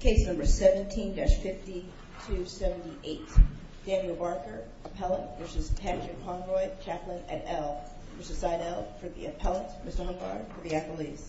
Case number 17-5278. Daniel Barker, appellate, v. Patrick Conroy, chaplain at Elle, v. Seidell, for the appellate. Ms. Dunbar, for the accolades.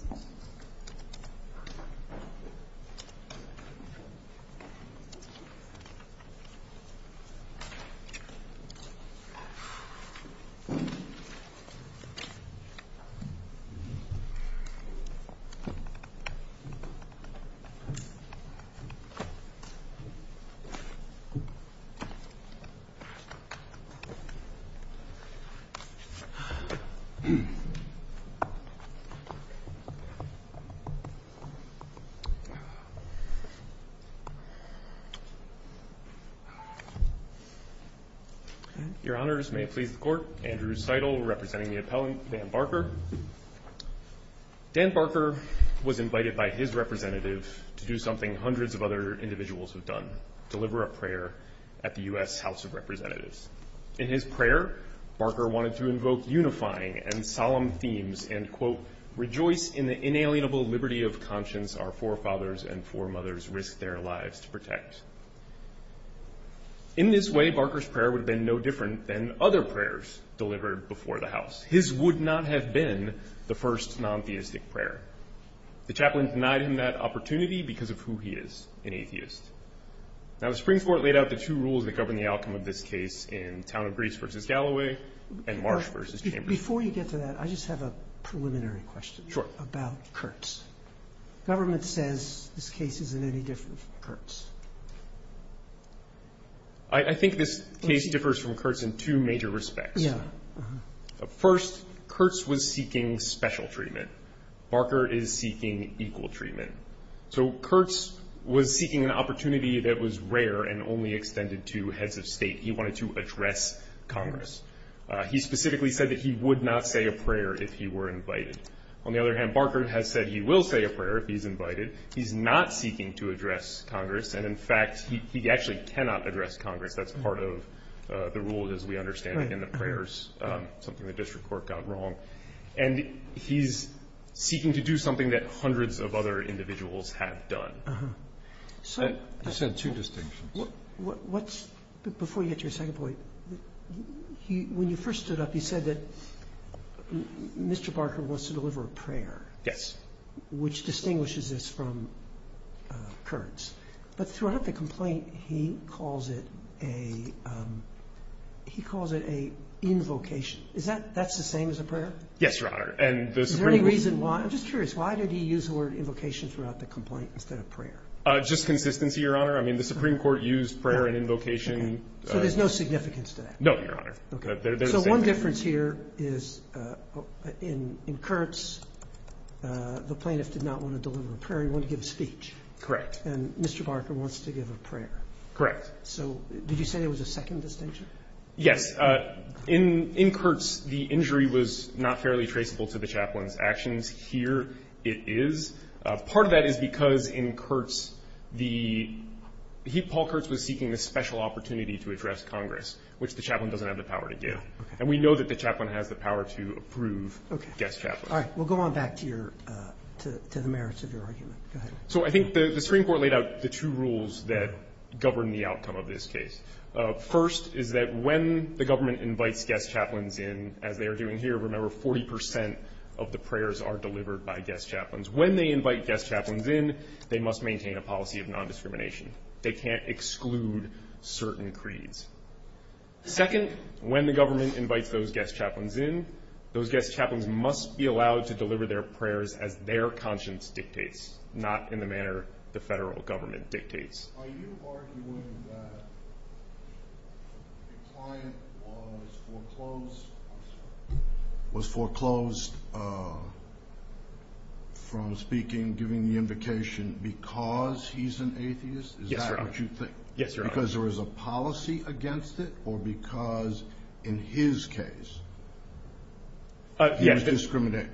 Your Honors, may it please the Court, Andrew Seidell, representing the appellant, Dan Barker. Dan Barker was invited by his representative to do something hundreds of other individuals have done, deliver a prayer at the U.S. House of Representatives. In his prayer, Barker wanted to invoke unifying and solemn themes and, quote, rejoice in the inalienable liberty of conscience our forefathers and foremothers risked their lives to protect. In this way, Barker's prayer would have been no different than other prayers delivered before the House. His would not have been the first non-theistic prayer. The chaplain denied him that opportunity because of who he is, an atheist. Now, the Supreme Court laid out the two rules that govern the outcome of this case in Town of Greece v. Galloway and Marsh v. Chambers. Before you get to that, I just have a preliminary question. Sure. About Kurtz. Government says this case isn't any different from Kurtz. I think this case differs from Kurtz in two major respects. Yeah. First, Kurtz was seeking special treatment. Barker is seeking equal treatment. So Kurtz was seeking an opportunity that was rare and only extended to heads of state. He wanted to address Congress. He specifically said that he would not say a prayer if he were invited. On the other hand, Barker has said he will say a prayer if he's invited. He's not seeking to address Congress. And, in fact, he actually cannot address Congress. That's part of the rule, as we understand it, in the prayers, something the district court got wrong. And he's seeking to do something that hundreds of other individuals have done. I just had two distinctions. Before you get to your second point, when you first stood up, you said that Mr. Barker wants to deliver a prayer. Yes. Which distinguishes this from Kurtz. But throughout the complaint, he calls it a invocation. That's the same as a prayer? Yes, Your Honor. Is there any reason why? I'm just curious, why did he use the word invocation throughout the complaint instead of prayer? Just consistency, Your Honor. I mean, the Supreme Court used prayer and invocation. So there's no significance to that? No, Your Honor. So one difference here is in Kurtz, the plaintiff did not want to deliver a prayer. He wanted to give a speech. Correct. And Mr. Barker wants to give a prayer. Correct. So did you say there was a second distinction? Yes. In Kurtz, the injury was not fairly traceable to the chaplain's actions. Here it is. Part of that is because in Kurtz, Paul Kurtz was seeking a special opportunity to address Congress, which the chaplain doesn't have the power to do. And we know that the chaplain has the power to approve guest chaplains. All right. We'll go on back to the merits of your argument. Go ahead. So I think the Supreme Court laid out the two rules that govern the outcome of this case. First is that when the government invites guest chaplains in, as they are doing here, remember 40 percent of the prayers are delivered by guest chaplains. When they invite guest chaplains in, they must maintain a policy of nondiscrimination. They can't exclude certain creeds. Second, when the government invites those guest chaplains in, those guest chaplains must be allowed to deliver their prayers as their conscience dictates, not in the manner the federal government dictates. Are you arguing that a client was foreclosed from speaking, giving the invocation, because he's an atheist? Yes, Your Honor. Yes, Your Honor. Because there is a policy against it or because, in his case, he was discriminating?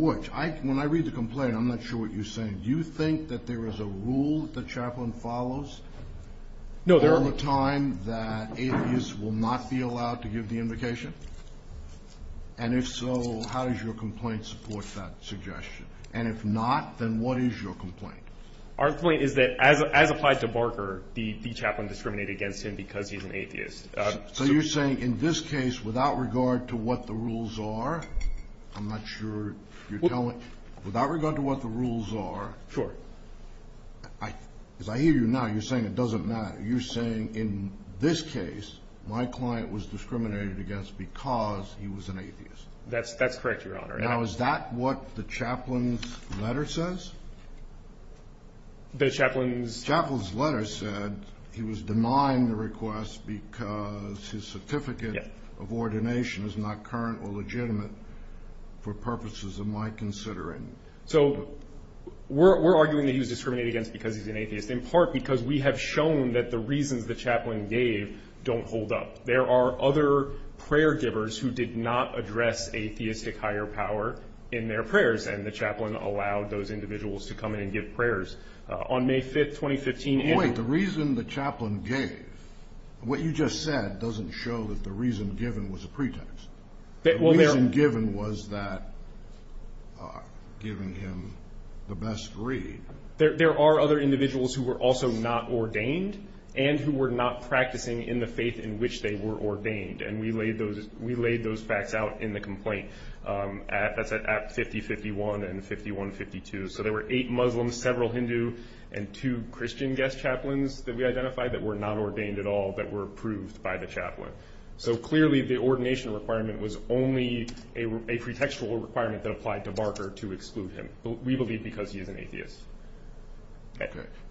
Which? When I read the complaint, I'm not sure what you're saying. Do you think that there is a rule that the chaplain follows? No, there are. Is there a time that atheists will not be allowed to give the invocation? And if so, how does your complaint support that suggestion? And if not, then what is your complaint? Our complaint is that, as applied to Barker, the chaplain discriminated against him because he's an atheist. So you're saying in this case, without regard to what the rules are, I'm not sure you're telling me. Without regard to what the rules are. Sure. As I hear you now, you're saying it doesn't matter. You're saying in this case, my client was discriminated against because he was an atheist. That's correct, Your Honor. Now, is that what the chaplain's letter says? The chaplain's? The chaplain's letter said he was demined the request because his certificate of ordination is not current or legitimate for purposes of my considering. So we're arguing that he was discriminated against because he's an atheist, in part because we have shown that the reasons the chaplain gave don't hold up. There are other prayer givers who did not address a theistic higher power in their prayers, and the chaplain allowed those individuals to come in and give prayers. On May 5th, 2015 – Wait, the reason the chaplain gave, what you just said doesn't show that the reason given was a pretext. The reason given was that giving him the best read. There are other individuals who were also not ordained and who were not practicing in the faith in which they were ordained, and we laid those facts out in the complaint. That's at 50-51 and 51-52. So there were eight Muslims, several Hindu, and two Christian guest chaplains that we identified that were not ordained at all, but were approved by the chaplain. So clearly, the ordination requirement was only a pretextual requirement that applied to Barker to exclude him. We believe because he is an atheist.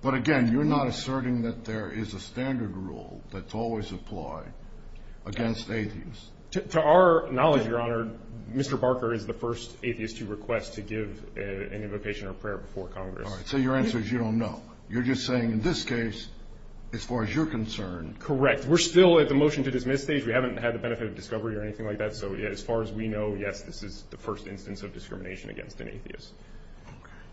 But again, you're not asserting that there is a standard rule that's always applied against atheists. To our knowledge, Your Honor, Mr. Barker is the first atheist to request to give an invocation or prayer before Congress. So your answer is you don't know. You're just saying in this case, as far as you're concerned – We're still at the motion-to-dismiss stage. We haven't had the benefit of discovery or anything like that, so as far as we know, yes, this is the first instance of discrimination against an atheist.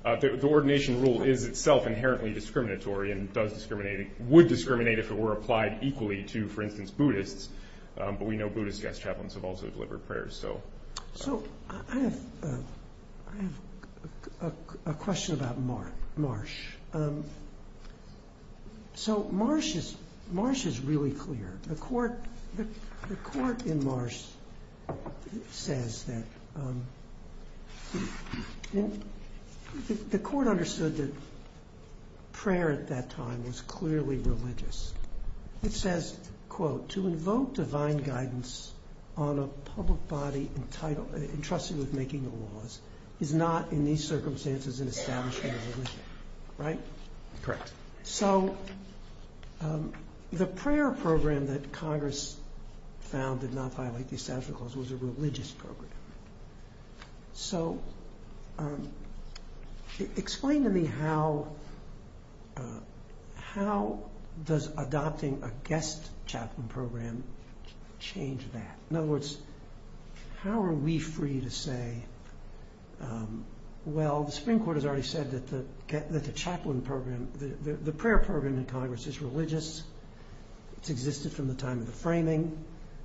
The ordination rule is itself inherently discriminatory and would discriminate if it were applied equally to, for instance, Buddhists, but we know Buddhist guest chaplains have also delivered prayers. So I have a question about Marsh. So Marsh is really clear. The court in Marsh says that the court understood that prayer at that time was clearly religious. It says, quote, to invoke divine guidance on a public body entrusted with making the laws is not in these circumstances an establishment of religion. Right? Correct. So the prayer program that Congress found did not violate these statutes of the laws was a religious program. So explain to me how does adopting a guest chaplain program change that? In other words, how are we free to say, well, the Supreme Court has already said that the chaplain program, the prayer program in Congress is religious. It's existed from the time of the framing.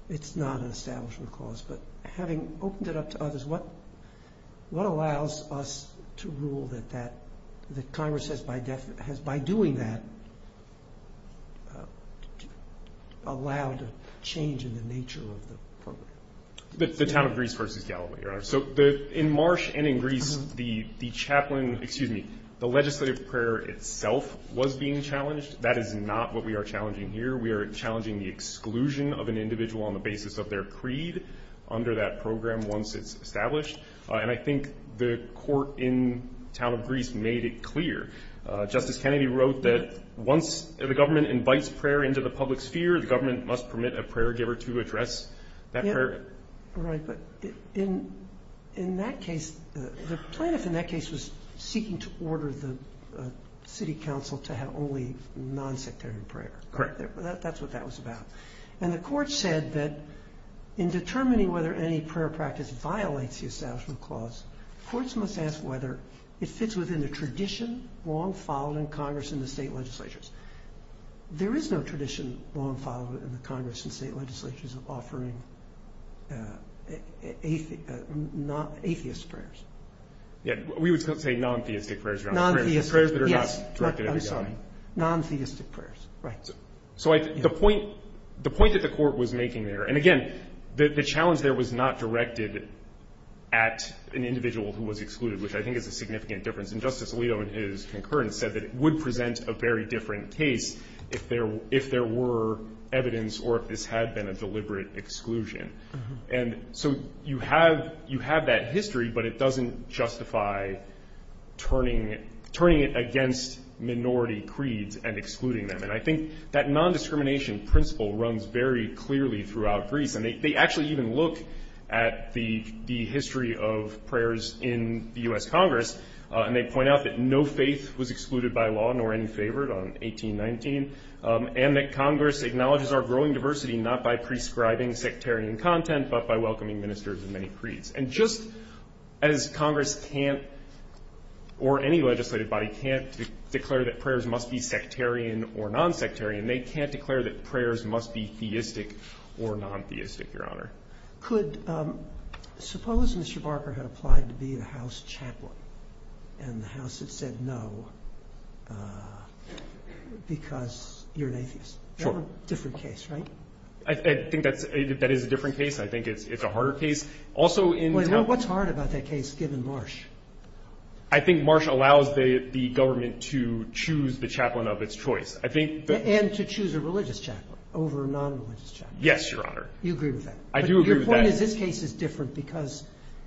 It's not an establishment clause. But having opened it up to others, what allows us to rule that Congress has, by doing that, allowed a change in the nature of the program? The town of Greece versus Galilee, Your Honor. So in Marsh and in Greece, the legislative prayer itself was being challenged. That is not what we are challenging here. We are challenging the exclusion of an individual on the basis of their creed under that program once it's established. And I think the court in the town of Greece made it clear. Justice Kennedy wrote that once the government invites prayer into the public sphere, the government must permit a prayer giver to address that prayer. Right, but in that case, the plaintiff in that case was seeking to order the city council to have only non-sectarian prayer. Correct. That's what that was about. And the court said that in determining whether any prayer practice violates the establishment clause, courts must ask whether it fits within the tradition long followed in Congress and the state legislatures. There is no tradition long followed in the Congress and state legislatures of offering atheist prayers. Yeah, we would say non-theistic prayers, Your Honor. Non-theistic. Prayers that are not directed at the government. Yes, I'm sorry. Non-theistic prayers. Right. So the point that the court was making there, and again, the challenge there was not directed at an individual who was excluded, which I think is a significant difference. And Justice Alito in his concurrence said that it would present a very different case if there were evidence or if this had been a deliberate exclusion. And so you have that history, but it doesn't justify turning it against minority creeds and excluding them. And I think that nondiscrimination principle runs very clearly throughout Greece, and they actually even look at the history of prayers in the U.S. Congress and they point out that no faith was excluded by law nor any favored on 1819 and that Congress acknowledges our growing diversity not by prescribing sectarian content but by welcoming ministers and many creeds. And just as Congress can't, or any legislative body can't, declare that prayers must be sectarian or non-sectarian, they can't declare that prayers must be theistic or non-theistic, Your Honor. Could – suppose Mr. Barker had applied to be a House chaplain, and the House had said no because you're an atheist. Sure. Different case, right? I think that's – that is a different case. I think it's a harder case. Also in – What's hard about that case given Marsh? I think Marsh allows the government to choose the chaplain of its choice. I think the – And to choose a religious chaplain over a non-religious chaplain. Yes, Your Honor. You agree with that? I do agree with that. But your point is this case is different because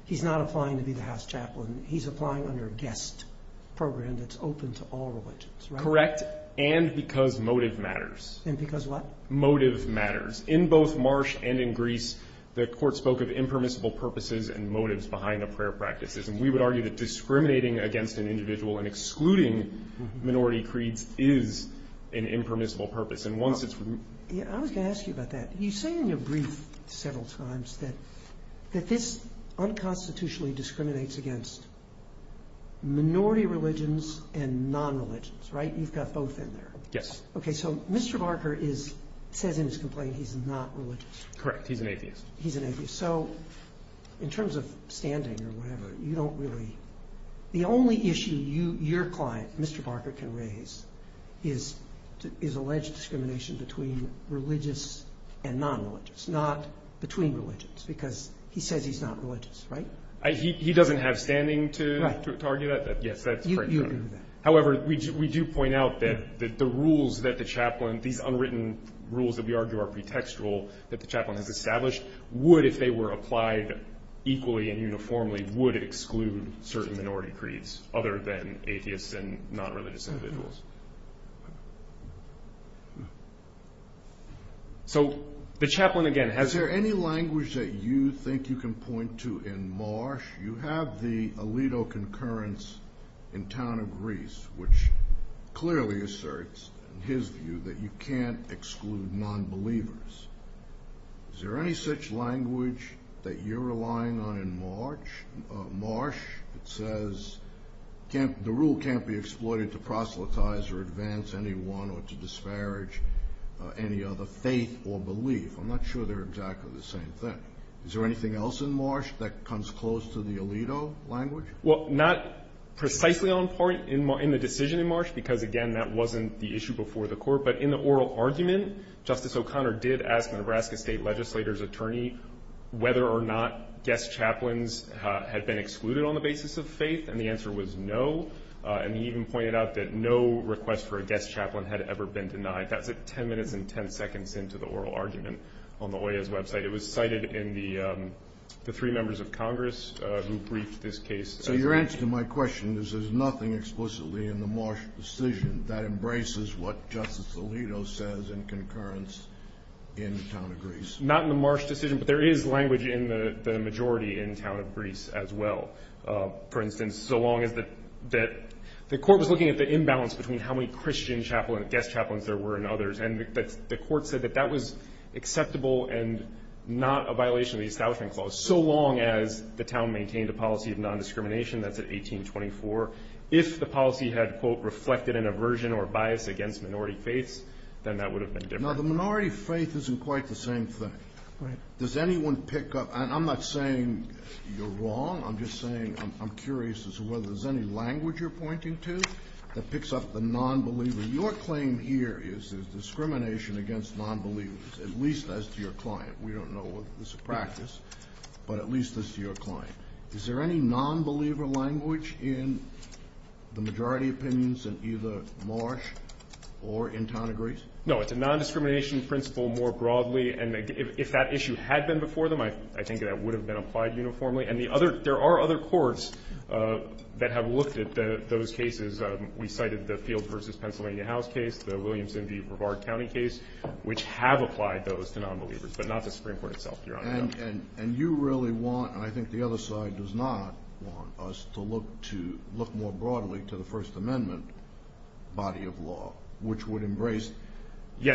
he's not applying to be the House chaplain. He's applying under a guest program that's open to all religions, right? Correct. And because motive matters. And because what? Motive matters. In both Marsh and in Greece, the Court spoke of impermissible purposes and motives behind the prayer practices. And we would argue that discriminating against an individual and excluding minority creeds is an impermissible purpose. And once it's – I was going to ask you about that. You say in your brief several times that this unconstitutionally discriminates against minority religions and non-religions, right? You've got both in there. Yes. Okay. So Mr. Barker is – says in his complaint he's not religious. Correct. He's an atheist. He's an atheist. So in terms of standing or whatever, you don't really – the only issue your client, Mr. Barker, can raise is alleged discrimination between religious and non-religious, not between religions, because he says he's not religious, right? He doesn't have standing to argue that? Right. Yes, that's correct. You agree with that. However, we do point out that the rules that the chaplain – these unwritten rules that we argue are pretextual that the chaplain has established would, if they were applied equally and uniformly, would exclude certain minority creeds other than atheists and non-religious individuals. So the chaplain, again, has – Is there any language that you think you can point to in Marsh? You have the Alito concurrence in town of Greece, which clearly asserts his view that you can't exclude non-believers. Is there any such language that you're relying on in Marsh that says the rule can't be exploited to proselytize or advance anyone or to disparage any other faith or belief? I'm not sure they're exactly the same thing. Is there anything else in Marsh that comes close to the Alito language? Well, not precisely on part in the decision in Marsh, because, again, that wasn't the issue before the court. But in the oral argument, Justice O'Connor did ask a Nebraska state legislator's attorney whether or not guest chaplains had been excluded on the basis of faith, and the answer was no. And he even pointed out that no request for a guest chaplain had ever been denied. That's 10 minutes and 10 seconds into the oral argument on the OAS website. It was cited in the three members of Congress who briefed this case. So your answer to my question is there's nothing explicitly in the Marsh decision that embraces what Justice Alito says in concurrence in the town of Greece. Not in the Marsh decision, but there is language in the majority in the town of Greece as well. For instance, so long as the court was looking at the imbalance between how many Christian guest chaplains there were and others, and the court said that that was acceptable and not a violation of the Establishment Clause, so long as the town maintained a policy of nondiscrimination, that's at 1824, if the policy had, quote, reflected an aversion or bias against minority faiths, then that would have been different. Now, the minority faith isn't quite the same thing. Right. Does anyone pick up? And I'm not saying you're wrong. I'm just saying I'm curious as to whether there's any language you're pointing to that picks up the nonbeliever. Your claim here is there's discrimination against nonbelievers, at least as to your client. We don't know whether this is a practice, but at least as to your client. Is there any nonbeliever language in the majority opinions in either Marsh or in town of Greece? No. It's a nondiscrimination principle more broadly, and if that issue had been before them, I think that would have been applied uniformly. And there are other courts that have looked at those cases. We cited the Fields v. Pennsylvania House case, the Williamson v. Brevard County case, which have applied those to nonbelievers, but not the Supreme Court itself, Your Honor. And you really want, and I think the other side does not want us to look more broadly to the First Amendment body of law, which would embrace the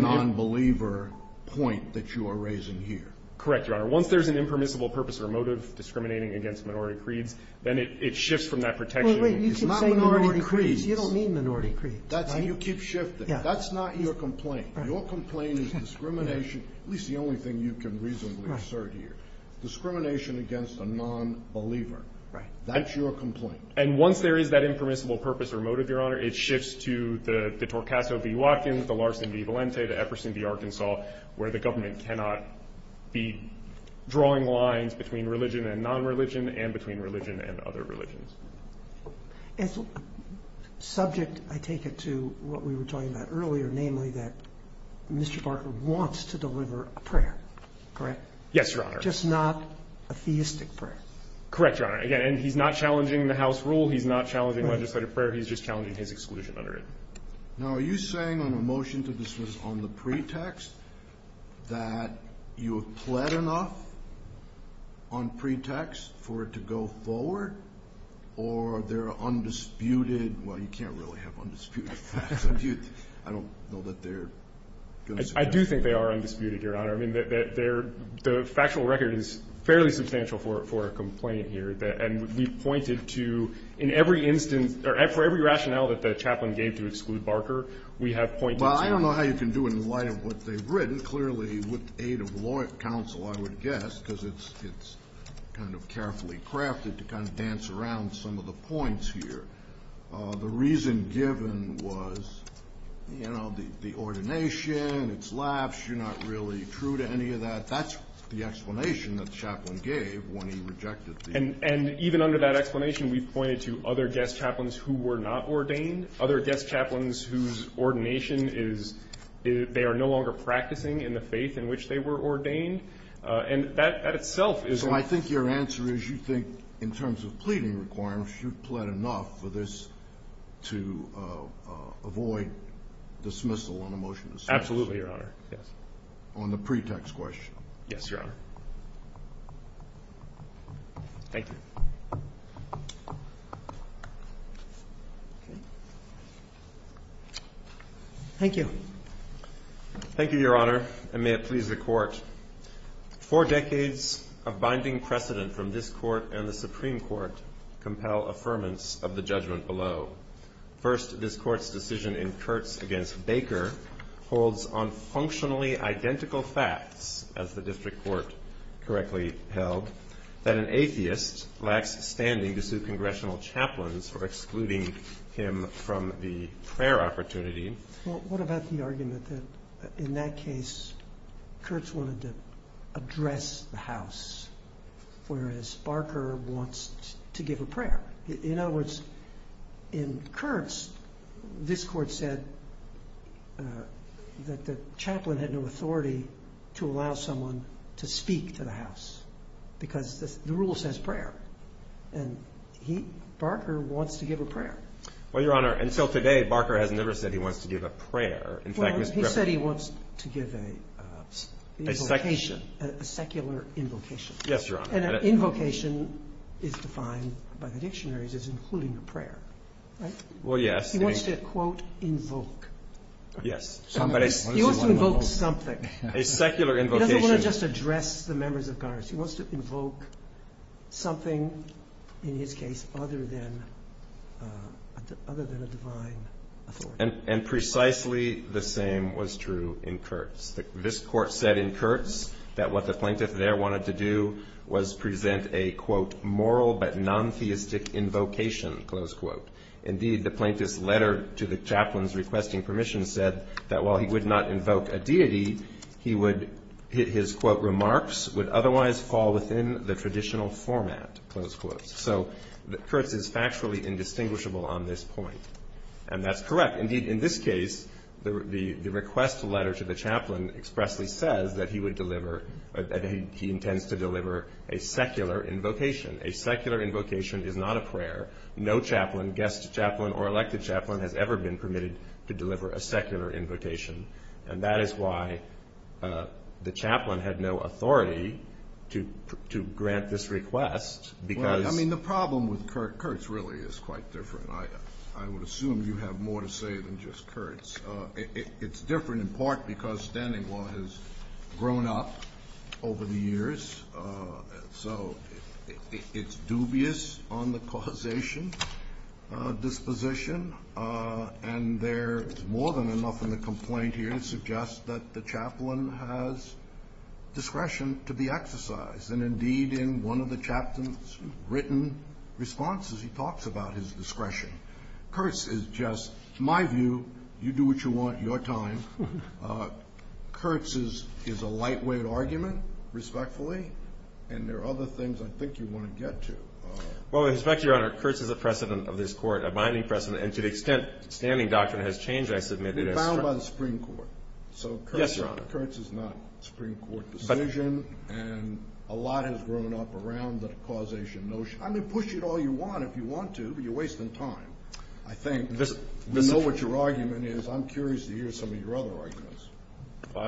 nonbeliever point that you are raising here. Correct, Your Honor. Once there's an impermissible purpose or motive discriminating against minority creeds, then it shifts from that protection. Well, wait. You keep saying minority creeds. You don't mean minority creeds. You keep shifting. That's not your complaint. Your complaint is discrimination, at least the only thing you can reasonably assert here, discrimination against a nonbeliever. Right. That's your complaint. And once there is that impermissible purpose or motive, Your Honor, it shifts to the Torcaso v. Watkins, the Larson v. Valente, the Epperson v. Arkansas, where the government cannot be drawing lines between religion and nonreligion and between religion and other religions. And so subject, I take it, to what we were talking about earlier, namely that Mr. Barker wants to deliver a prayer, correct? Yes, Your Honor. Just not a theistic prayer. Correct, Your Honor. Again, he's not challenging the House rule. He's not challenging legislative prayer. He's just challenging his exclusion under it. Now, are you saying on a motion to dismiss on the pretext that you have pled enough on pretext for it to go forward, or they're undisputed? Well, you can't really have undisputed facts. I don't know that they're going to say that. I do think they are undisputed, Your Honor. I mean, the factual record is fairly substantial for a complaint here, and we've pointed to in every instance or for every rationale that the chaplain gave to exclude Barker, we have pointed to it. Well, I don't know how you can do it in light of what they've written. It's very clearly with aid of law counsel, I would guess, because it's kind of carefully crafted to kind of dance around some of the points here. The reason given was, you know, the ordination, its lapse, you're not really true to any of that. That's the explanation that the chaplain gave when he rejected the order. And even under that explanation, we've pointed to other guest chaplains who were not ordained, other guest chaplains whose ordination is they are no longer practicing in the faith in which they were ordained. And that itself is. So I think your answer is you think in terms of pleading requirements, you've pled enough for this to avoid dismissal on a motion to dismiss. Absolutely, Your Honor. Yes. On the pretext question. Yes, Your Honor. Thank you. Thank you. Thank you, Your Honor, and may it please the Court. Four decades of binding precedent from this Court and the Supreme Court compel affirmance of the judgment below. First, this Court's decision in Kurtz against Baker holds on functionally identical facts, as the district court correctly held, that an atheist, like a Christian, lacks standing to sue congressional chaplains for excluding him from the prayer opportunity. Well, what about the argument that in that case, Kurtz wanted to address the house, whereas Barker wants to give a prayer? In other words, in Kurtz, this Court said that the chaplain had no authority to allow someone to speak to the house because the rule says prayer, and Barker wants to give a prayer. Well, Your Honor, until today, Barker has never said he wants to give a prayer. Well, he said he wants to give a invocation, a secular invocation. Yes, Your Honor. And an invocation is defined by the dictionaries as including a prayer, right? Well, yes. He wants to, quote, invoke. Yes. He wants to invoke something. A secular invocation. He doesn't want to just address the members of Congress. He wants to invoke something, in his case, other than a divine authority. And precisely the same was true in Kurtz. This Court said in Kurtz that what the plaintiff there wanted to do was present a, quote, moral but non-theistic invocation, close quote. Indeed, the plaintiff's letter to the chaplains requesting permission said that while he would not invoke a deity, his, quote, remarks would otherwise fall within the traditional format, close quote. So Kurtz is factually indistinguishable on this point. And that's correct. Indeed, in this case, the request letter to the chaplain expressly says that he would deliver, that he intends to deliver a secular invocation. A secular invocation is not a prayer. No chaplain, guest chaplain or elected chaplain, has ever been permitted to deliver a secular invocation. And that is why the chaplain had no authority to grant this request. I mean, the problem with Kurtz really is quite different. I would assume you have more to say than just Kurtz. It's different in part because standing law has grown up over the years. So it's dubious on the causation disposition. And there is more than enough in the complaint here to suggest that the chaplain has discretion to be exercised. And, indeed, in one of the chaplain's written responses, he talks about his discretion. Kurtz is just, my view, you do what you want, your time. Kurtz is a lightweight argument, respectfully. And there are other things I think you want to get to. Well, with respect to Your Honor, Kurtz is a precedent of this Court, a binding precedent. And to the extent standing doctrine has changed, I submit it is. It is bound by the Supreme Court. Yes, Your Honor. So Kurtz is not a Supreme Court decision. And a lot has grown up around the causation notion. I mean, push it all you want if you want to, but you're wasting time, I think. We know what your argument is. I'm curious to hear some of your other arguments.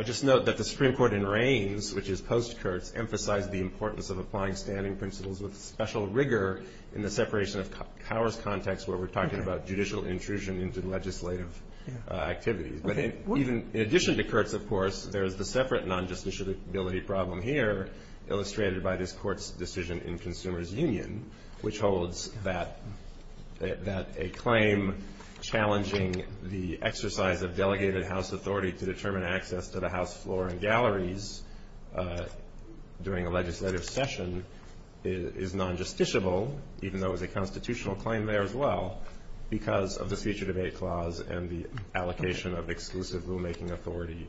Just note that the Supreme Court in Reins, which is post-Kurtz, emphasized the importance of applying standing principles with special rigor in the separation of powers context where we're talking about judicial intrusion into legislative activities. But in addition to Kurtz, of course, there is the separate non-justiciability problem here, illustrated by this Court's decision in Consumers Union, which holds that a claim challenging the exercise of delegated house authority to determine access to the House floor and galleries during a legislative session is non-justiciable, even though it was a constitutional claim there as well, because of the feature debate clause and the allocation of exclusive rulemaking authority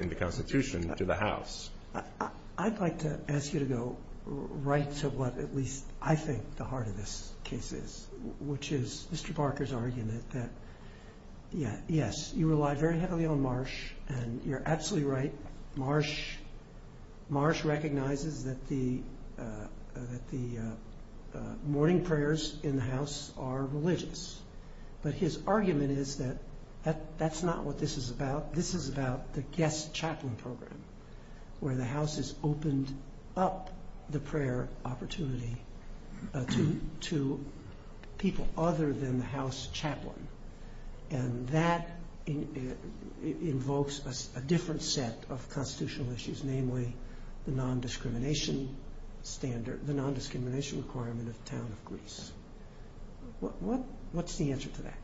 in the Constitution to the House. I'd like to ask you to go right to what at least I think the heart of this case is, which is Mr. Barker's argument that, yes, you rely very heavily on Marsh, and you're absolutely right, Marsh recognizes that the morning prayers in the House are religious. But his argument is that that's not what this is about. This is about the guest chaplain program, where the House has opened up the prayer opportunity to people other than the House chaplain, and that invokes a different set of constitutional issues, namely the non-discrimination standard, the non-discrimination requirement of the town of Greece. What's the answer to that?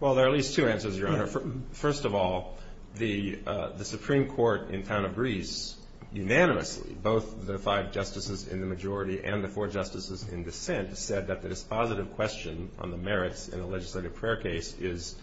Well, there are at least two answers, Your Honor. First of all, the Supreme Court in town of Greece unanimously, both the five justices in the majority and the four justices in dissent, said that the dispositive question on the merits in a legislative prayer case is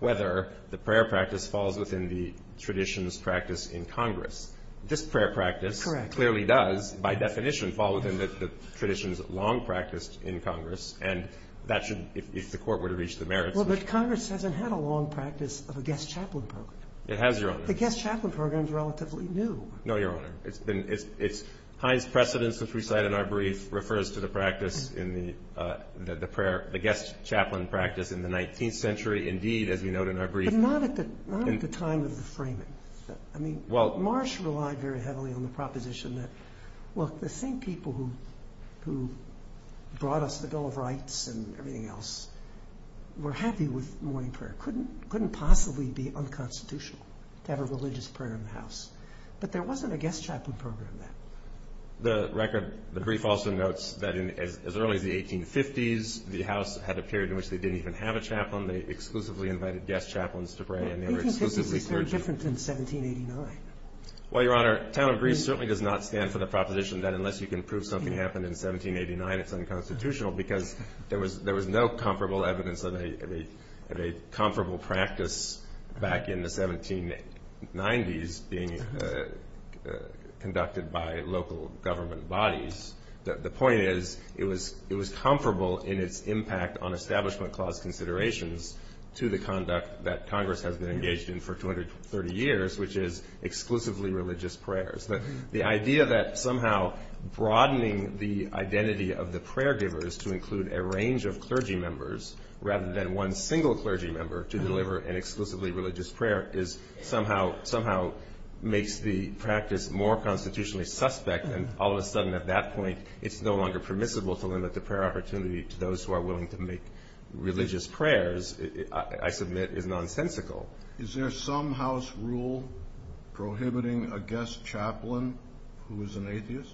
whether the prayer practice falls within the traditions practiced in Congress. This prayer practice clearly does by definition fall within the traditions long practiced in Congress, and that should, if the Court were to reach the merits. Well, but Congress hasn't had a long practice of a guest chaplain program. It has, Your Honor. The guest chaplain program is relatively new. No, Your Honor. It's Heinz Precedence, which we cite in our brief, refers to the guest chaplain practice in the 19th century, indeed, as we note in our brief. But not at the time of the framing. I mean, Marsh relied very heavily on the proposition that, well, the same people who brought us the Bill of Rights and everything else were happy with morning prayer. Couldn't possibly be unconstitutional to have a religious prayer in the House. But there wasn't a guest chaplain program then. The record, the brief also notes that as early as the 1850s, the House had a period in which they didn't even have a chaplain. They exclusively invited guest chaplains to pray, and they were exclusively clergy. 1850s is very different than 1789. Well, Your Honor, town of Greece certainly does not stand for the proposition that unless you can prove something happened in 1789, it's unconstitutional because there was no comparable evidence of a comparable practice back in the 1790s being conducted by local government bodies. The point is it was comparable in its impact on Establishment Clause considerations to the conduct that Congress has been engaged in for 230 years, which is exclusively religious prayers. The idea that somehow broadening the identity of the prayer givers to include a range of clergy members rather than one single clergy member to deliver an exclusively religious prayer somehow makes the practice more constitutionally suspect, and all of a sudden at that point it's no longer permissible to limit the prayer opportunity to those who are willing to make religious prayers, I submit, is nonsensical. Is there some house rule prohibiting a guest chaplain who is an atheist?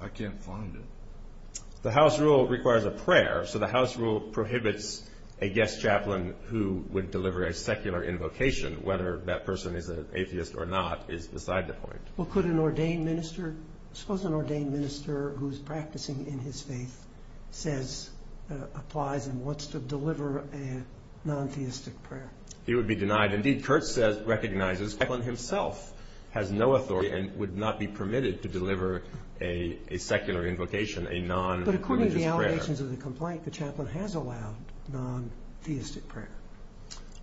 I can't find it. The house rule requires a prayer, so the house rule prohibits a guest chaplain who would deliver a secular invocation, whether that person is an atheist or not is beside the point. Well, could an ordained minister, suppose an ordained minister who's practicing in his faith says, applies and wants to deliver a non-theistic prayer? He would be denied. Indeed, Kurt recognizes the chaplain himself has no authority and would not be permitted to deliver a secular invocation, a non-religious prayer. But according to the allegations of the complaint, the chaplain has allowed non-theistic prayer.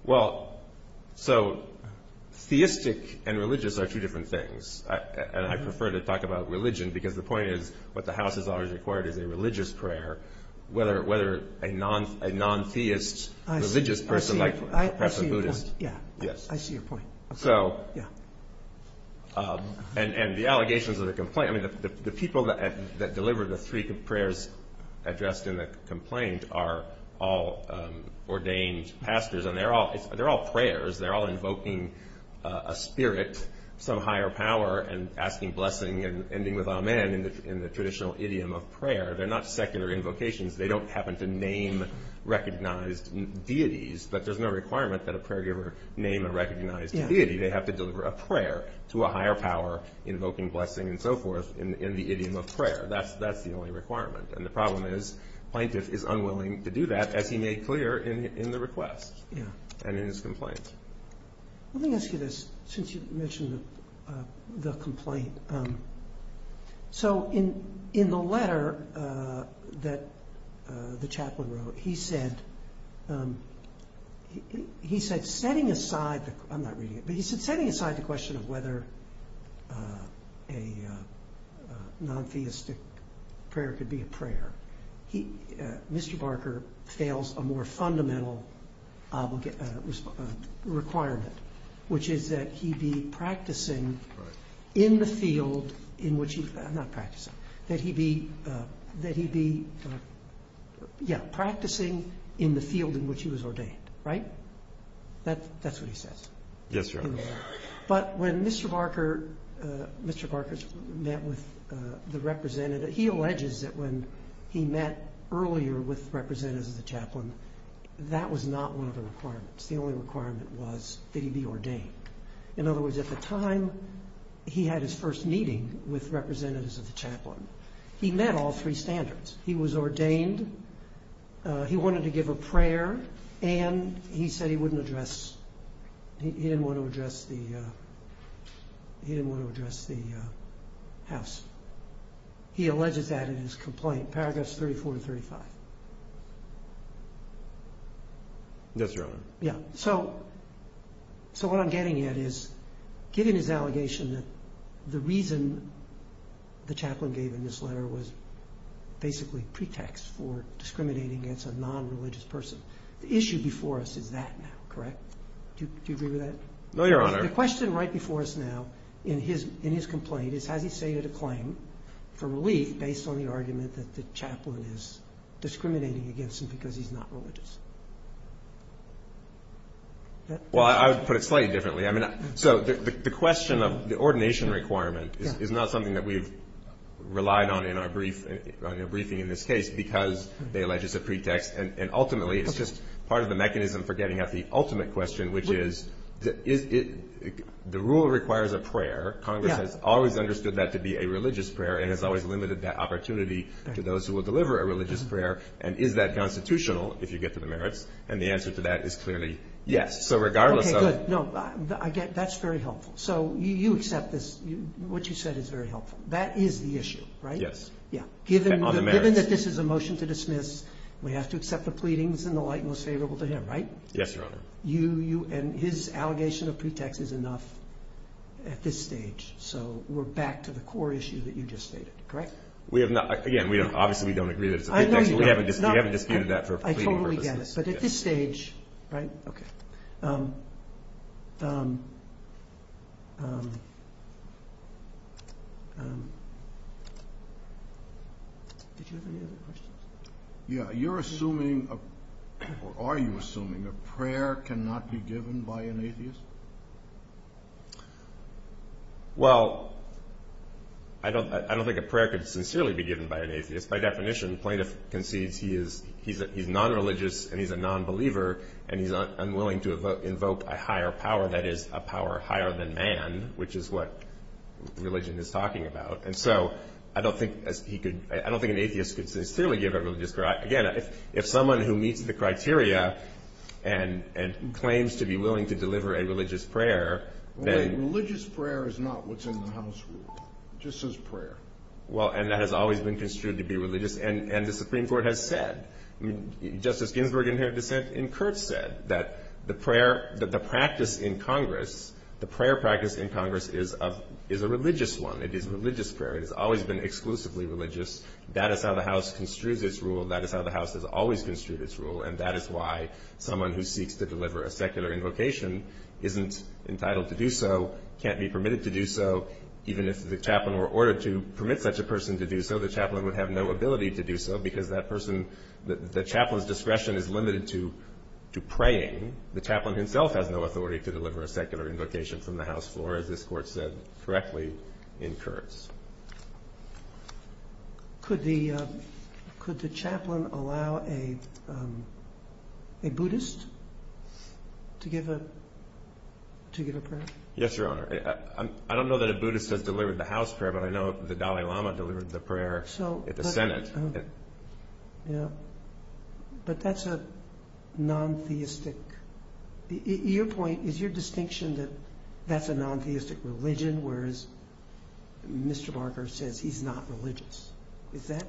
Well, so theistic and religious are two different things, and I prefer to talk about religion because the point is what the house has always required is a religious prayer, whether a non-theist religious person like perhaps a Buddhist. I see your point. Yes. I see your point. And the allegations of the complaint, the people that deliver the three prayers addressed in the complaint are all ordained pastors, and they're all prayers. They're all invoking a spirit, some higher power, and asking blessing and ending with amen in the traditional idiom of prayer. They're not secular invocations. They don't happen to name recognized deities, but there's no requirement that a prayer giver name a recognized deity. They have to deliver a prayer to a higher power, invoking blessing and so forth in the idiom of prayer. That's the only requirement. And the problem is plaintiff is unwilling to do that, as he made clear in the request and in his complaint. Let me ask you this since you mentioned the complaint. So in the letter that the chaplain wrote, he said setting aside the question of whether a non-theistic prayer could be a prayer, Mr. Barker fails a more fundamental requirement, which is that he be practicing in the field in which he was ordained, right? That's what he says. Yes, Your Honor. But when Mr. Barker met with the representative, he alleges that when he met earlier with representatives of the chaplain, that was not one of the requirements. The only requirement was that he be ordained. In other words, at the time he had his first meeting with representatives of the chaplain, he met all three standards. He was ordained, he wanted to give a prayer, and he said he didn't want to address the house. He alleges that in his complaint, paragraphs 34 to 35. Yes, Your Honor. Yeah. So what I'm getting at is given his allegation that the reason the chaplain gave in this letter was basically pretext for discriminating against a non-religious person, the issue before us is that now, correct? Do you agree with that? No, Your Honor. The question right before us now in his complaint is has he stated a claim for relief based on the argument that the chaplain is discriminating against him because he's not religious? Well, I would put it slightly differently. So the question of the ordination requirement is not something that we've relied on in our briefing in this case because they allege it's a pretext, and ultimately it's just part of the mechanism for getting at the ultimate question, which is the rule requires a prayer. Congress has always understood that to be a religious prayer and has always limited that opportunity to those who will deliver a religious prayer, and is that constitutional if you get to the merits? And the answer to that is clearly yes. Okay, good. No, that's very helpful. So you accept this, what you said is very helpful. That is the issue, right? Yes. On the merits. Given that this is a motion to dismiss, we have to accept the pleadings in the light most favorable to him, right? Yes, Your Honor. And his allegation of pretext is enough at this stage, so we're back to the core issue that you just stated, correct? Again, obviously we don't agree that it's a pretext. We haven't disputed that for pleading purposes. I totally get it, but at this stage, right? Okay. Did you have any other questions? Yeah, you're assuming or are you assuming a prayer cannot be given by an atheist? Well, I don't think a prayer could sincerely be given by an atheist. By definition, plaintiff concedes he's nonreligious and he's a nonbeliever and he's unwilling to invoke a higher power that is a power higher than man, which is what religion is talking about. And so I don't think he could – I don't think an atheist could sincerely give a religious prayer. Again, if someone who meets the criteria and claims to be willing to deliver a religious prayer, then – Religious prayer is not what's in the House rule. It just says prayer. Well, and that has always been construed to be religious, and the Supreme Court has said – Justice Ginsburg in her dissent in Kurtz said that the prayer – that the practice in Congress – the prayer practice in Congress is a religious one. It is religious prayer. It has always been exclusively religious. That is how the House construes its rule. That is how the House has always construed its rule, and that is why someone who seeks to deliver a secular invocation isn't entitled to do so, can't be permitted to do so. Even if the chaplain were ordered to permit such a person to do so, the chaplain would have no ability to do so because that person – the chaplain's discretion is limited to praying. The chaplain himself has no authority to deliver a secular invocation from the House floor, as this Court said correctly in Kurtz. Could the chaplain allow a Buddhist to give a prayer? Yes, Your Honor. I don't know that a Buddhist has delivered the House prayer, but I know the Dalai Lama delivered the prayer at the Senate. But that's a non-theistic – your point is your distinction that that's a non-theistic religion, whereas Mr. Barker says he's not religious. Is that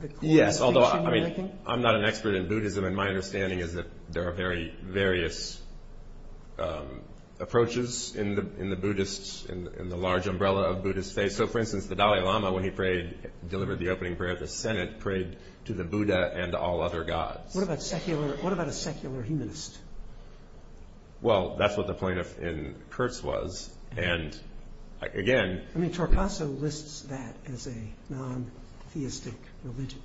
the distinction you're making? Yes, although I'm not an expert in Buddhism, and my understanding is that there are various approaches in the Buddhist – in the large umbrella of Buddhist faith. I mean, so for instance, the Dalai Lama, when he prayed – delivered the opening prayer at the Senate, prayed to the Buddha and all other gods. What about a secular humanist? Well, that's what the plaintiff in Kurtz was, and again – I mean, Torcaso lists that as a non-theistic religion.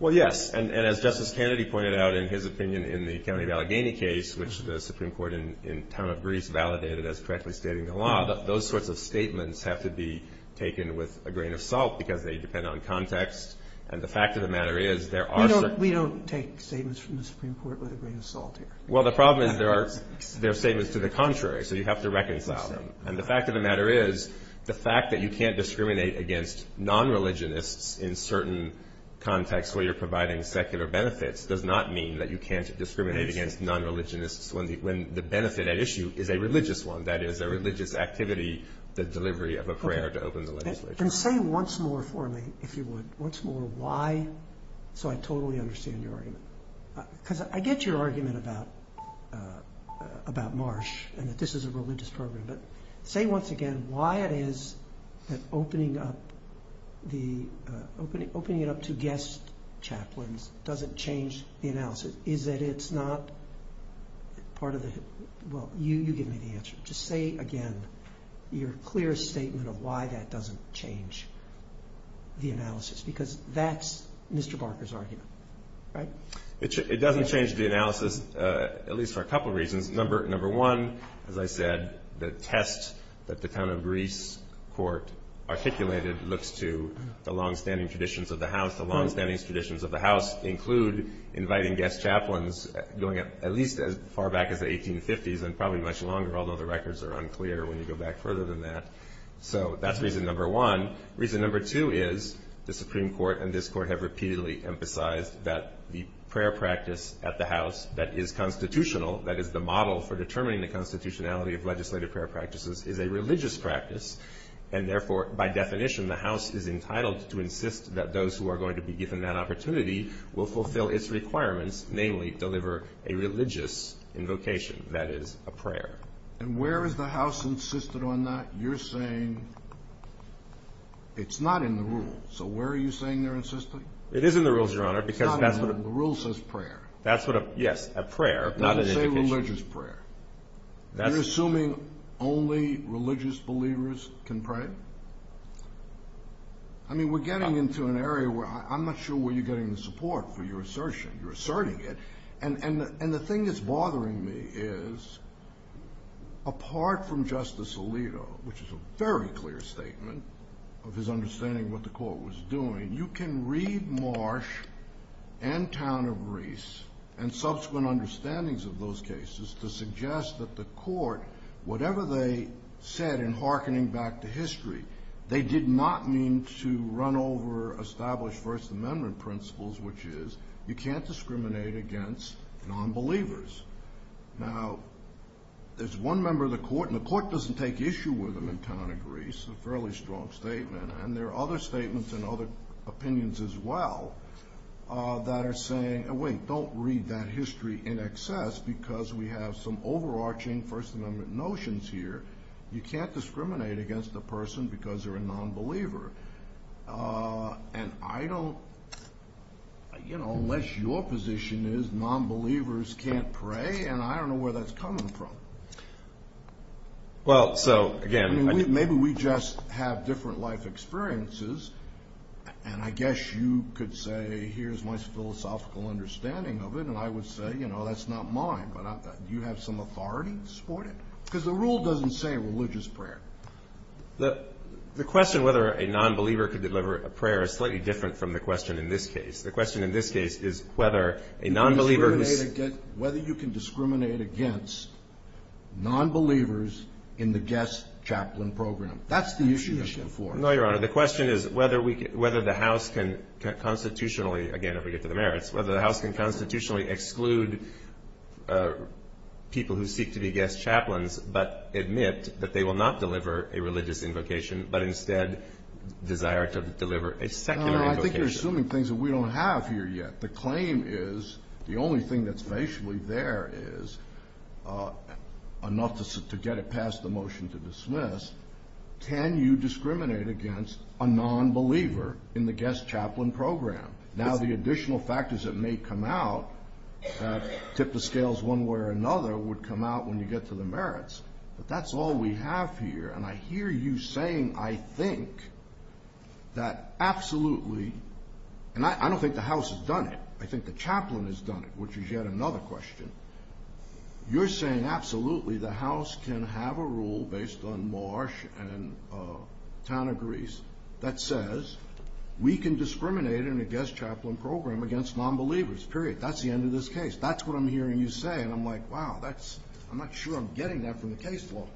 Well, yes, and as Justice Kennedy pointed out in his opinion in the County of Allegheny case, which the Supreme Court in town of Greece validated as correctly stating the law, those sorts of statements have to be taken with a grain of salt because they depend on context. And the fact of the matter is there are – We don't take statements from the Supreme Court with a grain of salt here. Well, the problem is there are statements to the contrary, so you have to reconcile them. And the fact of the matter is the fact that you can't discriminate against non-religionists in certain contexts where you're providing secular benefits does not mean that you can't discriminate against non-religionists when the benefit at issue is a religious one, that is, a religious activity, the delivery of a prayer to open the legislature. And say once more for me, if you would, once more why – so I totally understand your argument. Because I get your argument about Marsh and that this is a religious program, but say once again why it is that opening it up to guest chaplains doesn't change the analysis. Is that it's not part of the – Well, you give me the answer. Just say again your clear statement of why that doesn't change the analysis, because that's Mr. Barker's argument, right? It doesn't change the analysis, at least for a couple of reasons. Number one, as I said, the test that the town of Greece court articulated looks to the longstanding traditions of the house. The longstanding traditions of the house include inviting guest chaplains going at least as far back as the 1850s and probably much longer, although the records are unclear when you go back further than that. So that's reason number one. Reason number two is the Supreme Court and this court have repeatedly emphasized that the prayer practice at the house that is constitutional, that is the model for determining the constitutionality of legislative prayer practices, is a religious practice. And therefore, by definition, the house is entitled to insist that those who are going to be given that opportunity will fulfill its requirements, namely deliver a religious invocation, that is, a prayer. And where is the house insisted on that? You're saying it's not in the rules. So where are you saying they're insisting? It is in the rules, Your Honor. It's not in the rules. The rule says prayer. Yes, a prayer, not an invocation. It doesn't say religious prayer. Are you assuming only religious believers can pray? I mean, we're getting into an area where I'm not sure where you're getting the support for your assertion. You're asserting it. And the thing that's bothering me is, apart from Justice Alito, which is a very clear statement of his understanding of what the court was doing, you can read Marsh and Town of Reese and subsequent understandings of those cases to suggest that the court, whatever they said in hearkening back to history, they did not mean to run over established First Amendment principles, which is you can't discriminate against nonbelievers. Now, there's one member of the court, and the court doesn't take issue with him in Town of Reese, a fairly strong statement. And there are other statements and other opinions as well that are saying, wait, don't read that history in excess because we have some overarching First Amendment notions here. You can't discriminate against a person because they're a nonbeliever. And I don't, you know, unless your position is nonbelievers can't pray, and I don't know where that's coming from. Well, so, again. I mean, maybe we just have different life experiences, and I guess you could say here's my philosophical understanding of it, and I would say, you know, that's not mine. But do you have some authority to support it? Because the rule doesn't say religious prayer. The question whether a nonbeliever could deliver a prayer is slightly different from the question in this case. The question in this case is whether a nonbeliever who's... Whether you can discriminate against nonbelievers in the guest chaplain program. That's the issue you're looking for. No, Your Honor. The question is whether the House can constitutionally, again, if we get to the merits, whether the House can constitutionally exclude people who seek to be guest chaplains but admit that they will not deliver a religious invocation, but instead desire to deliver a secular invocation. No, I think you're assuming things that we don't have here yet. The claim is the only thing that's facially there is enough to get it past the motion to dismiss. Can you discriminate against a nonbeliever in the guest chaplain program? Now, the additional factors that may come out that tip the scales one way or another would come out when you get to the merits, but that's all we have here. And I hear you saying, I think, that absolutely... And I don't think the House has done it. I think the chaplain has done it, which is yet another question. You're saying absolutely the House can have a rule based on Marsh and Tanigris that says we can discriminate in a guest chaplain program against nonbelievers, period. That's the end of this case. That's what I'm hearing you say. And I'm like, wow, I'm not sure I'm getting that from the case law.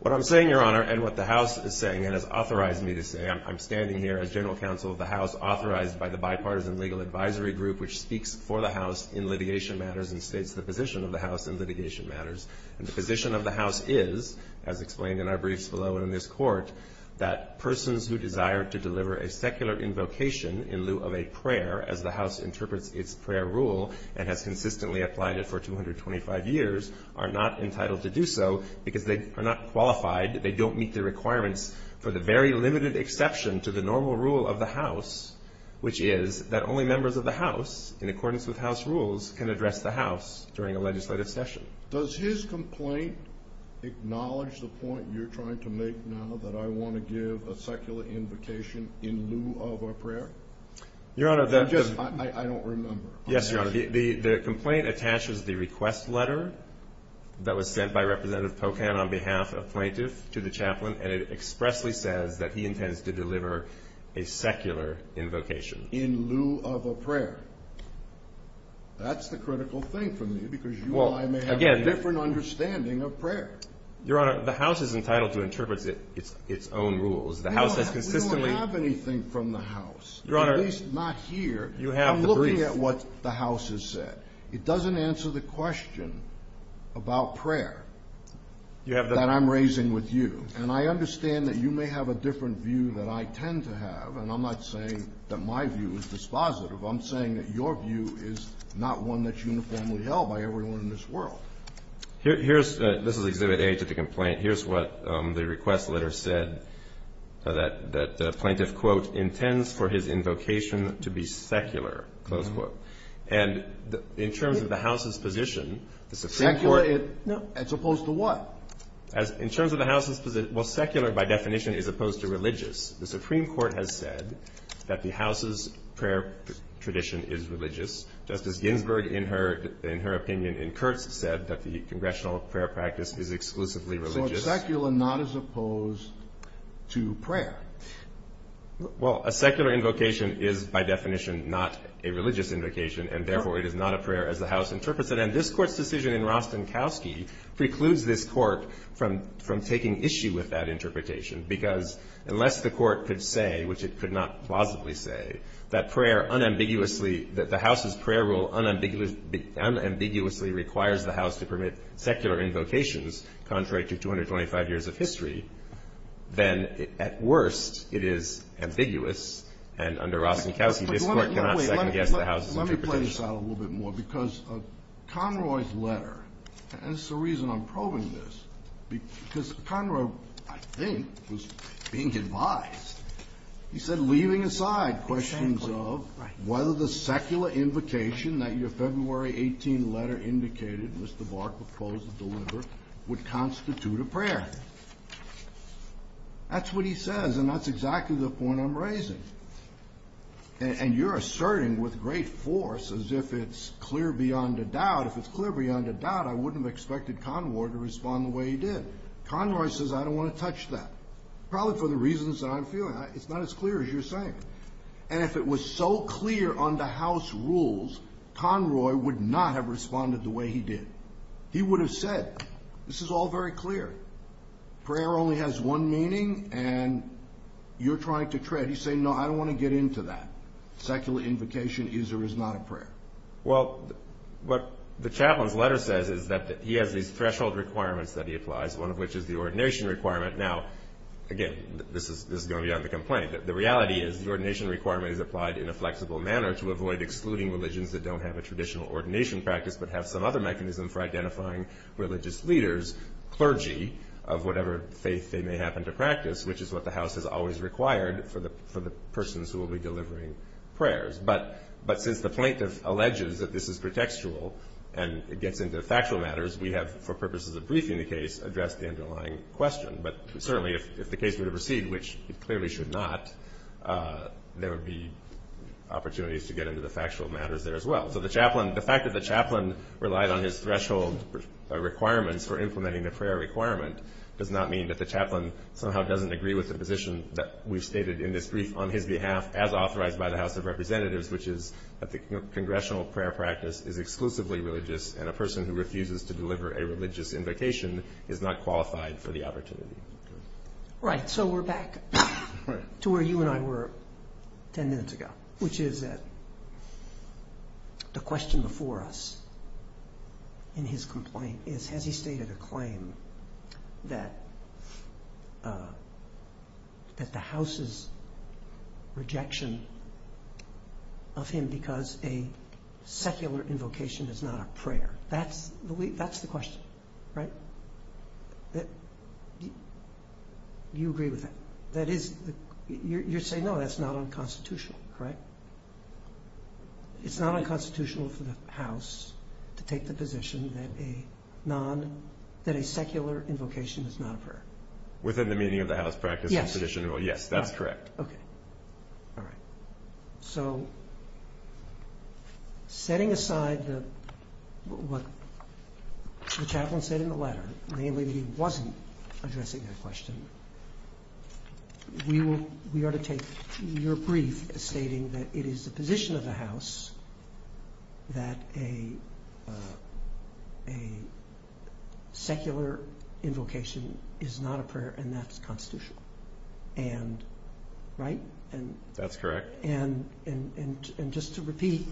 What I'm saying, Your Honor, and what the House is saying and has authorized me to say, I'm standing here as general counsel of the House authorized by the bipartisan legal advisory group, which speaks for the House in litigation matters and states the position of the House in litigation matters. And the position of the House is, as explained in our briefs below and in this court, that persons who desire to deliver a secular invocation in lieu of a prayer, as the House interprets its prayer rule and has consistently applied it for 225 years, are not entitled to do so because they are not qualified, they don't meet the requirements for the very limited exception to the normal rule of the House, which is that only members of the House, in accordance with House rules, can address the House during a legislative session. Does his complaint acknowledge the point you're trying to make now that I want to give a secular invocation in lieu of a prayer? I don't remember. Yes, Your Honor. The complaint attaches the request letter that was sent by Representative Pocan on behalf of plaintiffs to the chaplain, and it expressly says that he intends to deliver a secular invocation. In lieu of a prayer. That's the critical thing for me because you and I may have a different understanding of prayer. Your Honor, the House is entitled to interpret its own rules. We don't have anything from the House, at least not here. I'm looking at what the House has said. It doesn't answer the question about prayer that I'm raising with you, and I understand that you may have a different view than I tend to have, and I'm not saying that my view is dispositive. I'm saying that your view is not one that's uniformly held by everyone in this world. This is Exhibit A to the complaint. Here's what the request letter said, that the plaintiff, quote, intends for his invocation to be secular, close quote. And in terms of the House's position, the Supreme Court is. Secular as opposed to what? In terms of the House's position, well, secular by definition is opposed to religious. The Supreme Court has said that the House's prayer tradition is religious. Justice Ginsburg, in her opinion, in Kurtz, said that the congressional prayer practice is exclusively religious. So it's secular, not as opposed to prayer. Well, a secular invocation is by definition not a religious invocation, and therefore it is not a prayer as the House interprets it. And this Court's decision in Rostenkowski precludes this Court from taking issue with that interpretation, because unless the Court could say, which it could not plausibly say, that prayer unambiguously, that the House's prayer rule unambiguously requires the House to permit secular invocations, contrary to 225 years of history, then at worst it is ambiguous. And under Rostenkowski, this Court cannot second-guess the House's interpretation. Let me play this out a little bit more, because Conroy's letter, and this is the reason I'm probing this, because Conroy, I think, was being advised. He said, leaving aside questions of whether the secular invocation that your February 18 letter indicated Mr. Barr proposed to deliver would constitute a prayer. That's what he says, and that's exactly the point I'm raising. And you're asserting with great force as if it's clear beyond a doubt. If it's clear beyond a doubt, I wouldn't have expected Conroy to respond the way he did. Conroy says, I don't want to touch that, probably for the reasons that I'm feeling. It's not as clear as you're saying. And if it was so clear under House rules, Conroy would not have responded the way he did. He would have said, this is all very clear. Prayer only has one meaning, and you're trying to tread. You say, no, I don't want to get into that. Secular invocation is or is not a prayer. Well, what the chaplain's letter says is that he has these threshold requirements that he applies, one of which is the ordination requirement. Now, again, this is going to be on the complaint. The reality is the ordination requirement is applied in a flexible manner to avoid excluding religions that don't have a traditional ordination practice but have some other mechanism for identifying religious leaders, clergy, of whatever faith they may happen to practice, which is what the House has always required for the persons who will be delivering prayers. But since the plaintiff alleges that this is pretextual and it gets into factual matters, we have, for purposes of briefing the case, addressed the underlying question. But certainly if the case were to proceed, which it clearly should not, there would be opportunities to get into the factual matters there as well. So the fact that the chaplain relied on his threshold requirements for implementing the prayer requirement does not mean that the chaplain somehow doesn't agree with the position that we've stated in this brief on his behalf as authorized by the House of Representatives, which is that the congressional prayer practice is exclusively religious and a person who refuses to deliver a religious invocation is not qualified for the opportunity. Right. So we're back to where you and I were ten minutes ago, which is that the question before us in his complaint is, has he stated a claim that the House's rejection of him is only because a secular invocation is not a prayer? That's the question, right? You agree with that? You're saying, no, that's not unconstitutional, correct? It's not unconstitutional for the House to take the position that a non- that a secular invocation is not a prayer? Within the meaning of the House practice and tradition, yes, that's correct. Okay. All right. So setting aside what the chaplain said in the letter, namely that he wasn't addressing that question, we ought to take your brief as stating that it is the position of the House that a secular invocation is not a prayer and that's constitutional. Right? That's correct. And just to repeat,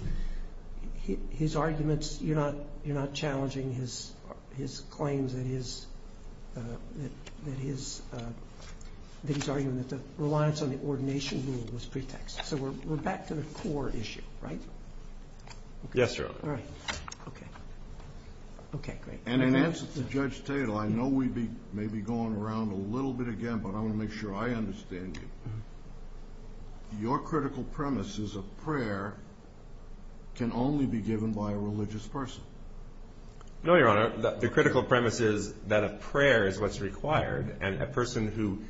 his arguments, you're not challenging his claims that his argument that the reliance on the ordination rule was pretext. So we're back to the core issue, right? Yes, Your Honor. All right. Okay. Okay, great. And in answer to Judge Tatel, I know we may be going around a little bit again, but I want to make sure I understand you. Your critical premise is a prayer can only be given by a religious person. No, Your Honor. The critical premise is that a prayer is what's required, and a person who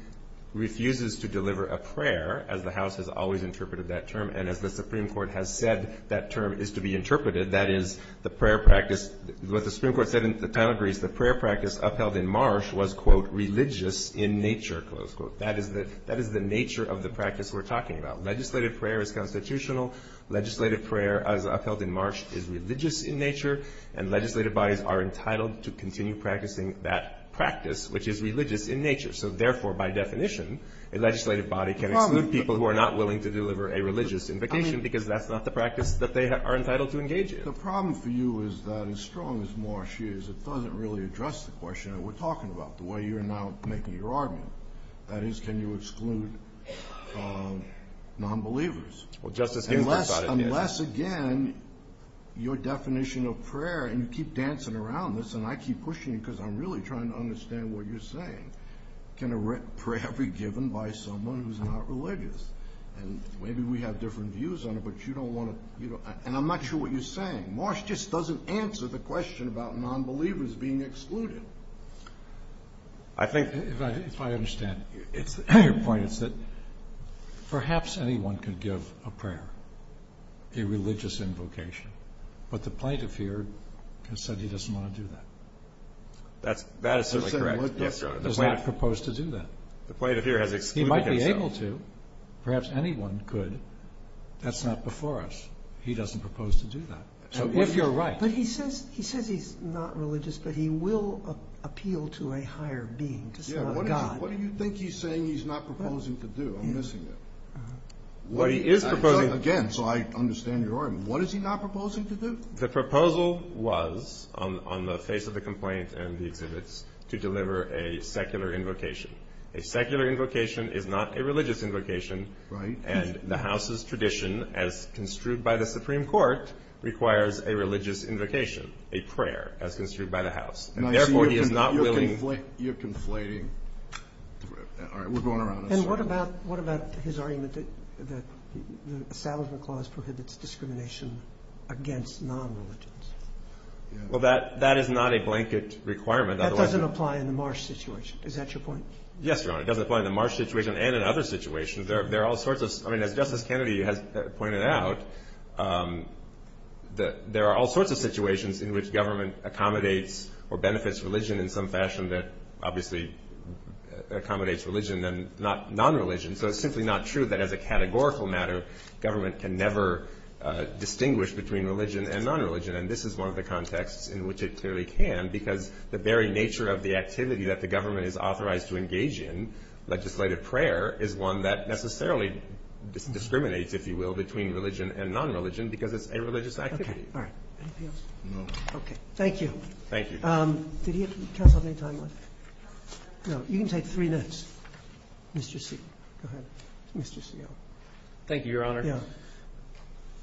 refuses to deliver a prayer, as the House has always interpreted that term, and as the Supreme Court has said that term is to be interpreted, that is the prayer practice. What the Supreme Court said in the Tattler case, the prayer practice upheld in Marsh was, quote, religious in nature, close quote. That is the nature of the practice we're talking about. Legislative prayer is constitutional. Legislative prayer as upheld in Marsh is religious in nature, and legislative bodies are entitled to continue practicing that practice, which is religious in nature. So, therefore, by definition, a legislative body can exclude people who are not willing to deliver a religious invocation because that's not the practice that they are entitled to engage in. The problem for you is that as strong as Marsh is, it doesn't really address the question that we're talking about, the way you're now making your argument. That is, can you exclude nonbelievers? Well, Justice Ginsburg thought it did. Unless, again, your definition of prayer, and you keep dancing around this and I keep pushing it because I'm really trying to understand what you're saying, can a prayer be given by someone who's not religious? And maybe we have different views on it, but you don't want to, you know, and I'm not sure what you're saying. Marsh just doesn't answer the question about nonbelievers being excluded. If I understand your point, it's that perhaps anyone could give a prayer, a religious invocation, but the plaintiff here has said he doesn't want to do that. That is certainly correct. He does not propose to do that. The plaintiff here has excluded himself. He might be able to. Perhaps anyone could. That's not before us. He doesn't propose to do that. If you're right. But he says he's not religious, but he will appeal to a higher being, to God. What do you think he's saying he's not proposing to do? I'm missing it. Well, he is proposing. Again, so I understand your argument. What is he not proposing to do? The proposal was, on the face of the complaint and the exhibits, to deliver a secular invocation. A secular invocation is not a religious invocation. Right. And the House's tradition, as construed by the Supreme Court, requires a religious invocation, a prayer, as construed by the House. Therefore, he is not willing. You're conflating. All right. We're going around. And what about his argument that the Establishment Clause prohibits discrimination against non-religions? Well, that is not a blanket requirement. That doesn't apply in the Marsh situation. Is that your point? Yes, Your Honor. It doesn't apply in the Marsh situation and in other situations. I mean, as Justice Kennedy has pointed out, there are all sorts of situations in which government accommodates or benefits religion in some fashion that obviously accommodates religion and not non-religion. So it's simply not true that, as a categorical matter, government can never distinguish between religion and non-religion. And this is one of the contexts in which it clearly can, because the very nature of the activity that the government is authorized to necessarily discriminates, if you will, between religion and non-religion because it's a religious activity. Okay. All right. Anything else? No. Okay. Thank you. Thank you. Did he have any time left? No. No. You can take three minutes. Mr. Seale. Go ahead. Mr. Seale. Thank you, Your Honor. Yeah.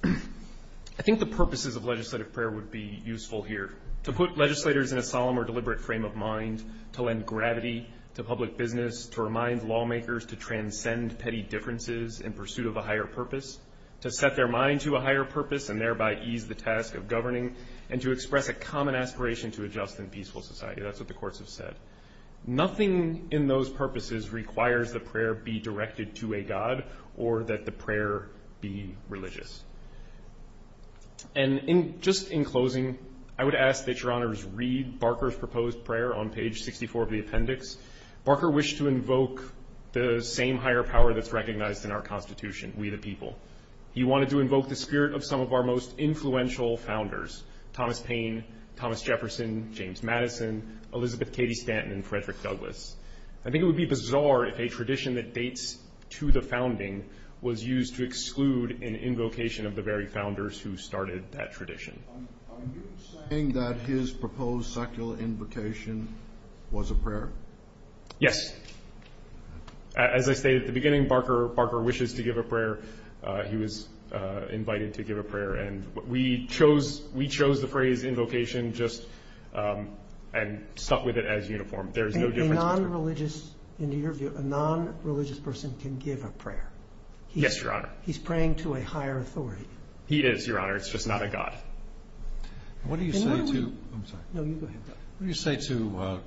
I think the purposes of legislative prayer would be useful here, to put legislators in a solemn or deliberate frame of mind, to lend gravity to public business, to remind lawmakers to transcend petty differences in pursuit of a higher purpose, to set their mind to a higher purpose and thereby ease the task of governing, and to express a common aspiration to adjust in peaceful society. That's what the courts have said. Nothing in those purposes requires the prayer be directed to a god or that the prayer be religious. And just in closing, I would ask that Your Honors read Barker's proposed prayer on page 64 of the appendix. Barker wished to invoke the same higher power that's recognized in our Constitution, we the people. He wanted to invoke the spirit of some of our most influential founders, Thomas Paine, Thomas Jefferson, James Madison, Elizabeth Cady Stanton, and Frederick Douglass. I think it would be bizarre if a tradition that dates to the founding was used Are you saying that his proposed secular invocation was a prayer? Yes. As I stated at the beginning, Barker wishes to give a prayer. He was invited to give a prayer, and we chose the phrase invocation just and stuck with it as uniform. A non-religious person can give a prayer. Yes, Your Honor. He's praying to a higher authority. He is, Your Honor. It's just not a God. What do you say to, I'm sorry. No, you go ahead. What do you say to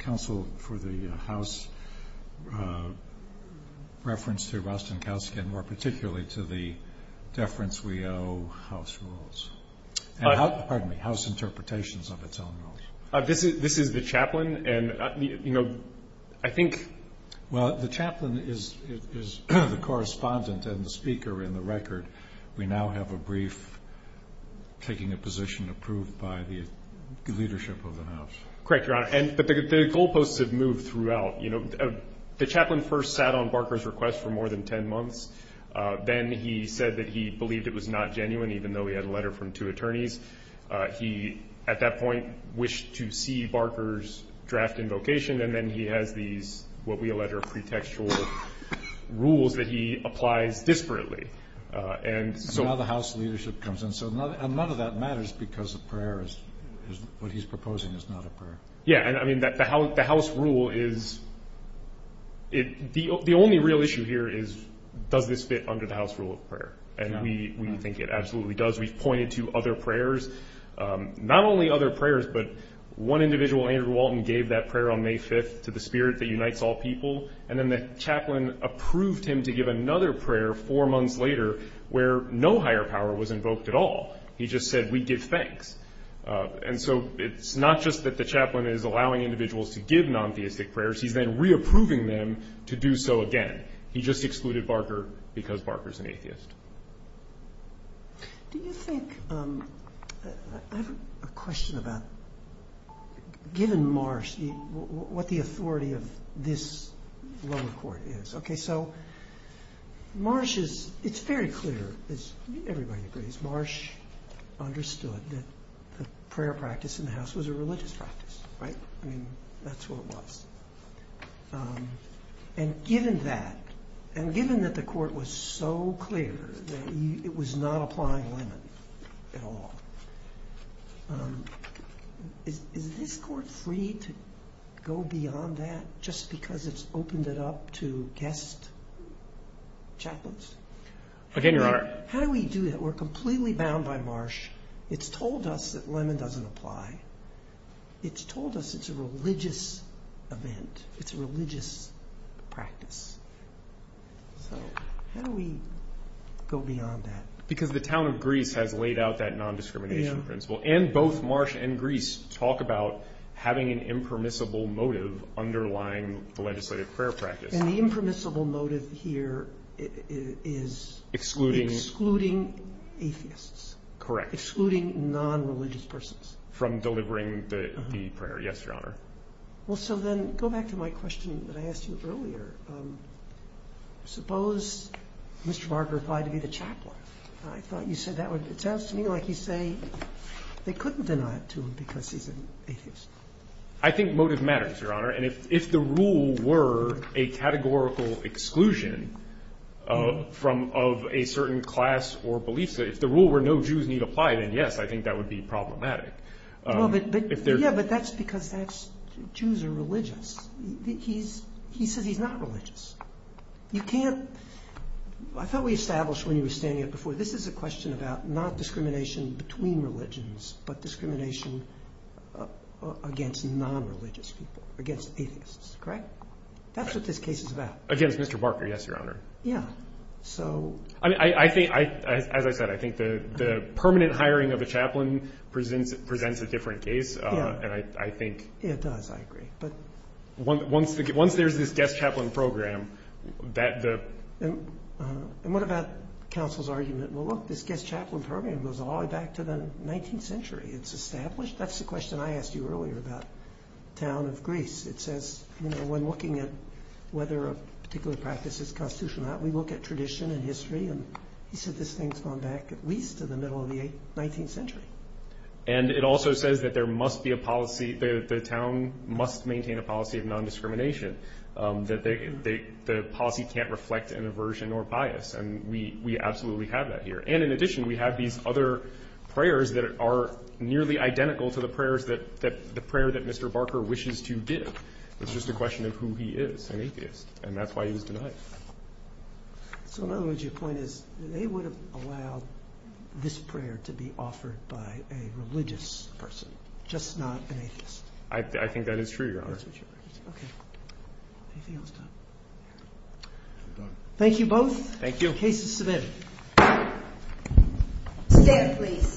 counsel for the House reference to Rostenkowski and more particularly to the deference we owe House rules? Pardon me, House interpretations of its own rules. This is the chaplain, and I think Well, the chaplain is the correspondent and the speaker in the record. We now have a brief taking a position approved by the leadership of the House. Correct, Your Honor. The goalposts have moved throughout. The chaplain first sat on Barker's request for more than 10 months. Then he said that he believed it was not genuine, even though he had a letter from two attorneys. He, at that point, wished to see Barker's draft invocation, and then he has these what we allege are pretextual rules that he applies desperately Now the House leadership comes in, and none of that matters because the prayer is what he's proposing is not a prayer. Yeah, and I mean the House rule is, the only real issue here is does this fit under the House rule of prayer, and we think it absolutely does. We've pointed to other prayers, not only other prayers, but one individual, Andrew Walton, gave that prayer on May 5th to the spirit that unites all people, and then the chaplain approved him to give another prayer four months later where no higher power was invoked at all. He just said, we give thanks. And so it's not just that the chaplain is allowing individuals to give non-theistic prayers. He's then re-approving them to do so again. He just excluded Barker because Barker's an atheist. Do you think, I have a question about, given Marsh, what the authority of this lower court is. Okay, so Marsh is, it's very clear, as everybody agrees, Marsh understood that the prayer practice in the House was a religious practice. Right? I mean, that's what it was. And given that, and given that the court was so clear that it was not applying a limit at all, is this court free to go beyond that just because it's opened it up to guest chaplains? Again, Your Honor. How do we do that? We're completely bound by Marsh. It's told us that Lemon doesn't apply. It's told us it's a religious event. It's a religious practice. So how do we go beyond that? Because the town of Greece has laid out that non-discrimination principle. And both Marsh and Greece talk about having an impermissible motive underlying the legislative prayer practice. And the impermissible motive here is excluding atheists. Correct. Excluding non-religious persons. From delivering the prayer, yes, Your Honor. Well, so then, go back to my question that I asked you earlier. Suppose Mr. Barger applied to be the chaplain. I thought you said that would, it sounds to me like you say they couldn't deny it to him because he's an atheist. I think motive matters, Your Honor. And if the rule were a categorical exclusion of a certain class or belief set, if the rule were no Jews need apply, then yes, I think that would be problematic. Yeah, but that's because Jews are religious. He says he's not religious. You can't, I thought we established when you were standing up before, this is a question about not discrimination between religions, but discrimination against non-religious people, against atheists. Correct? That's what this case is about. Against Mr. Barger, yes, Your Honor. Yeah. So. I think, as I said, I think the permanent hiring of a chaplain presents a different case. Yeah. And I think. It does, I agree. But. Once there's this guest chaplain program, that the. And what about counsel's argument? Well, look, this guest chaplain program goes all the way back to the 19th century. It's established. That's the question I asked you earlier about the town of Greece. It says, you know, when looking at whether a particular practice is constitutional or not, we look at tradition and history, and he said this thing's gone back at least to the middle of the 19th century. And it also says that there must be a policy. The town must maintain a policy of non-discrimination, that the policy can't reflect an aversion or bias. And we absolutely have that here. And in addition, we have these other prayers that are nearly identical to the prayers that, the prayer that Mr. Barker wishes to give. It's just a question of who he is, an atheist. And that's why he was denied. So in other words, your point is that they would have allowed this prayer to be offered by a religious person, just not an atheist. I think that is true, Your Honor. Okay. Anything else, Tom? Thank you both. Thank you. Case is submitted. Stand, please.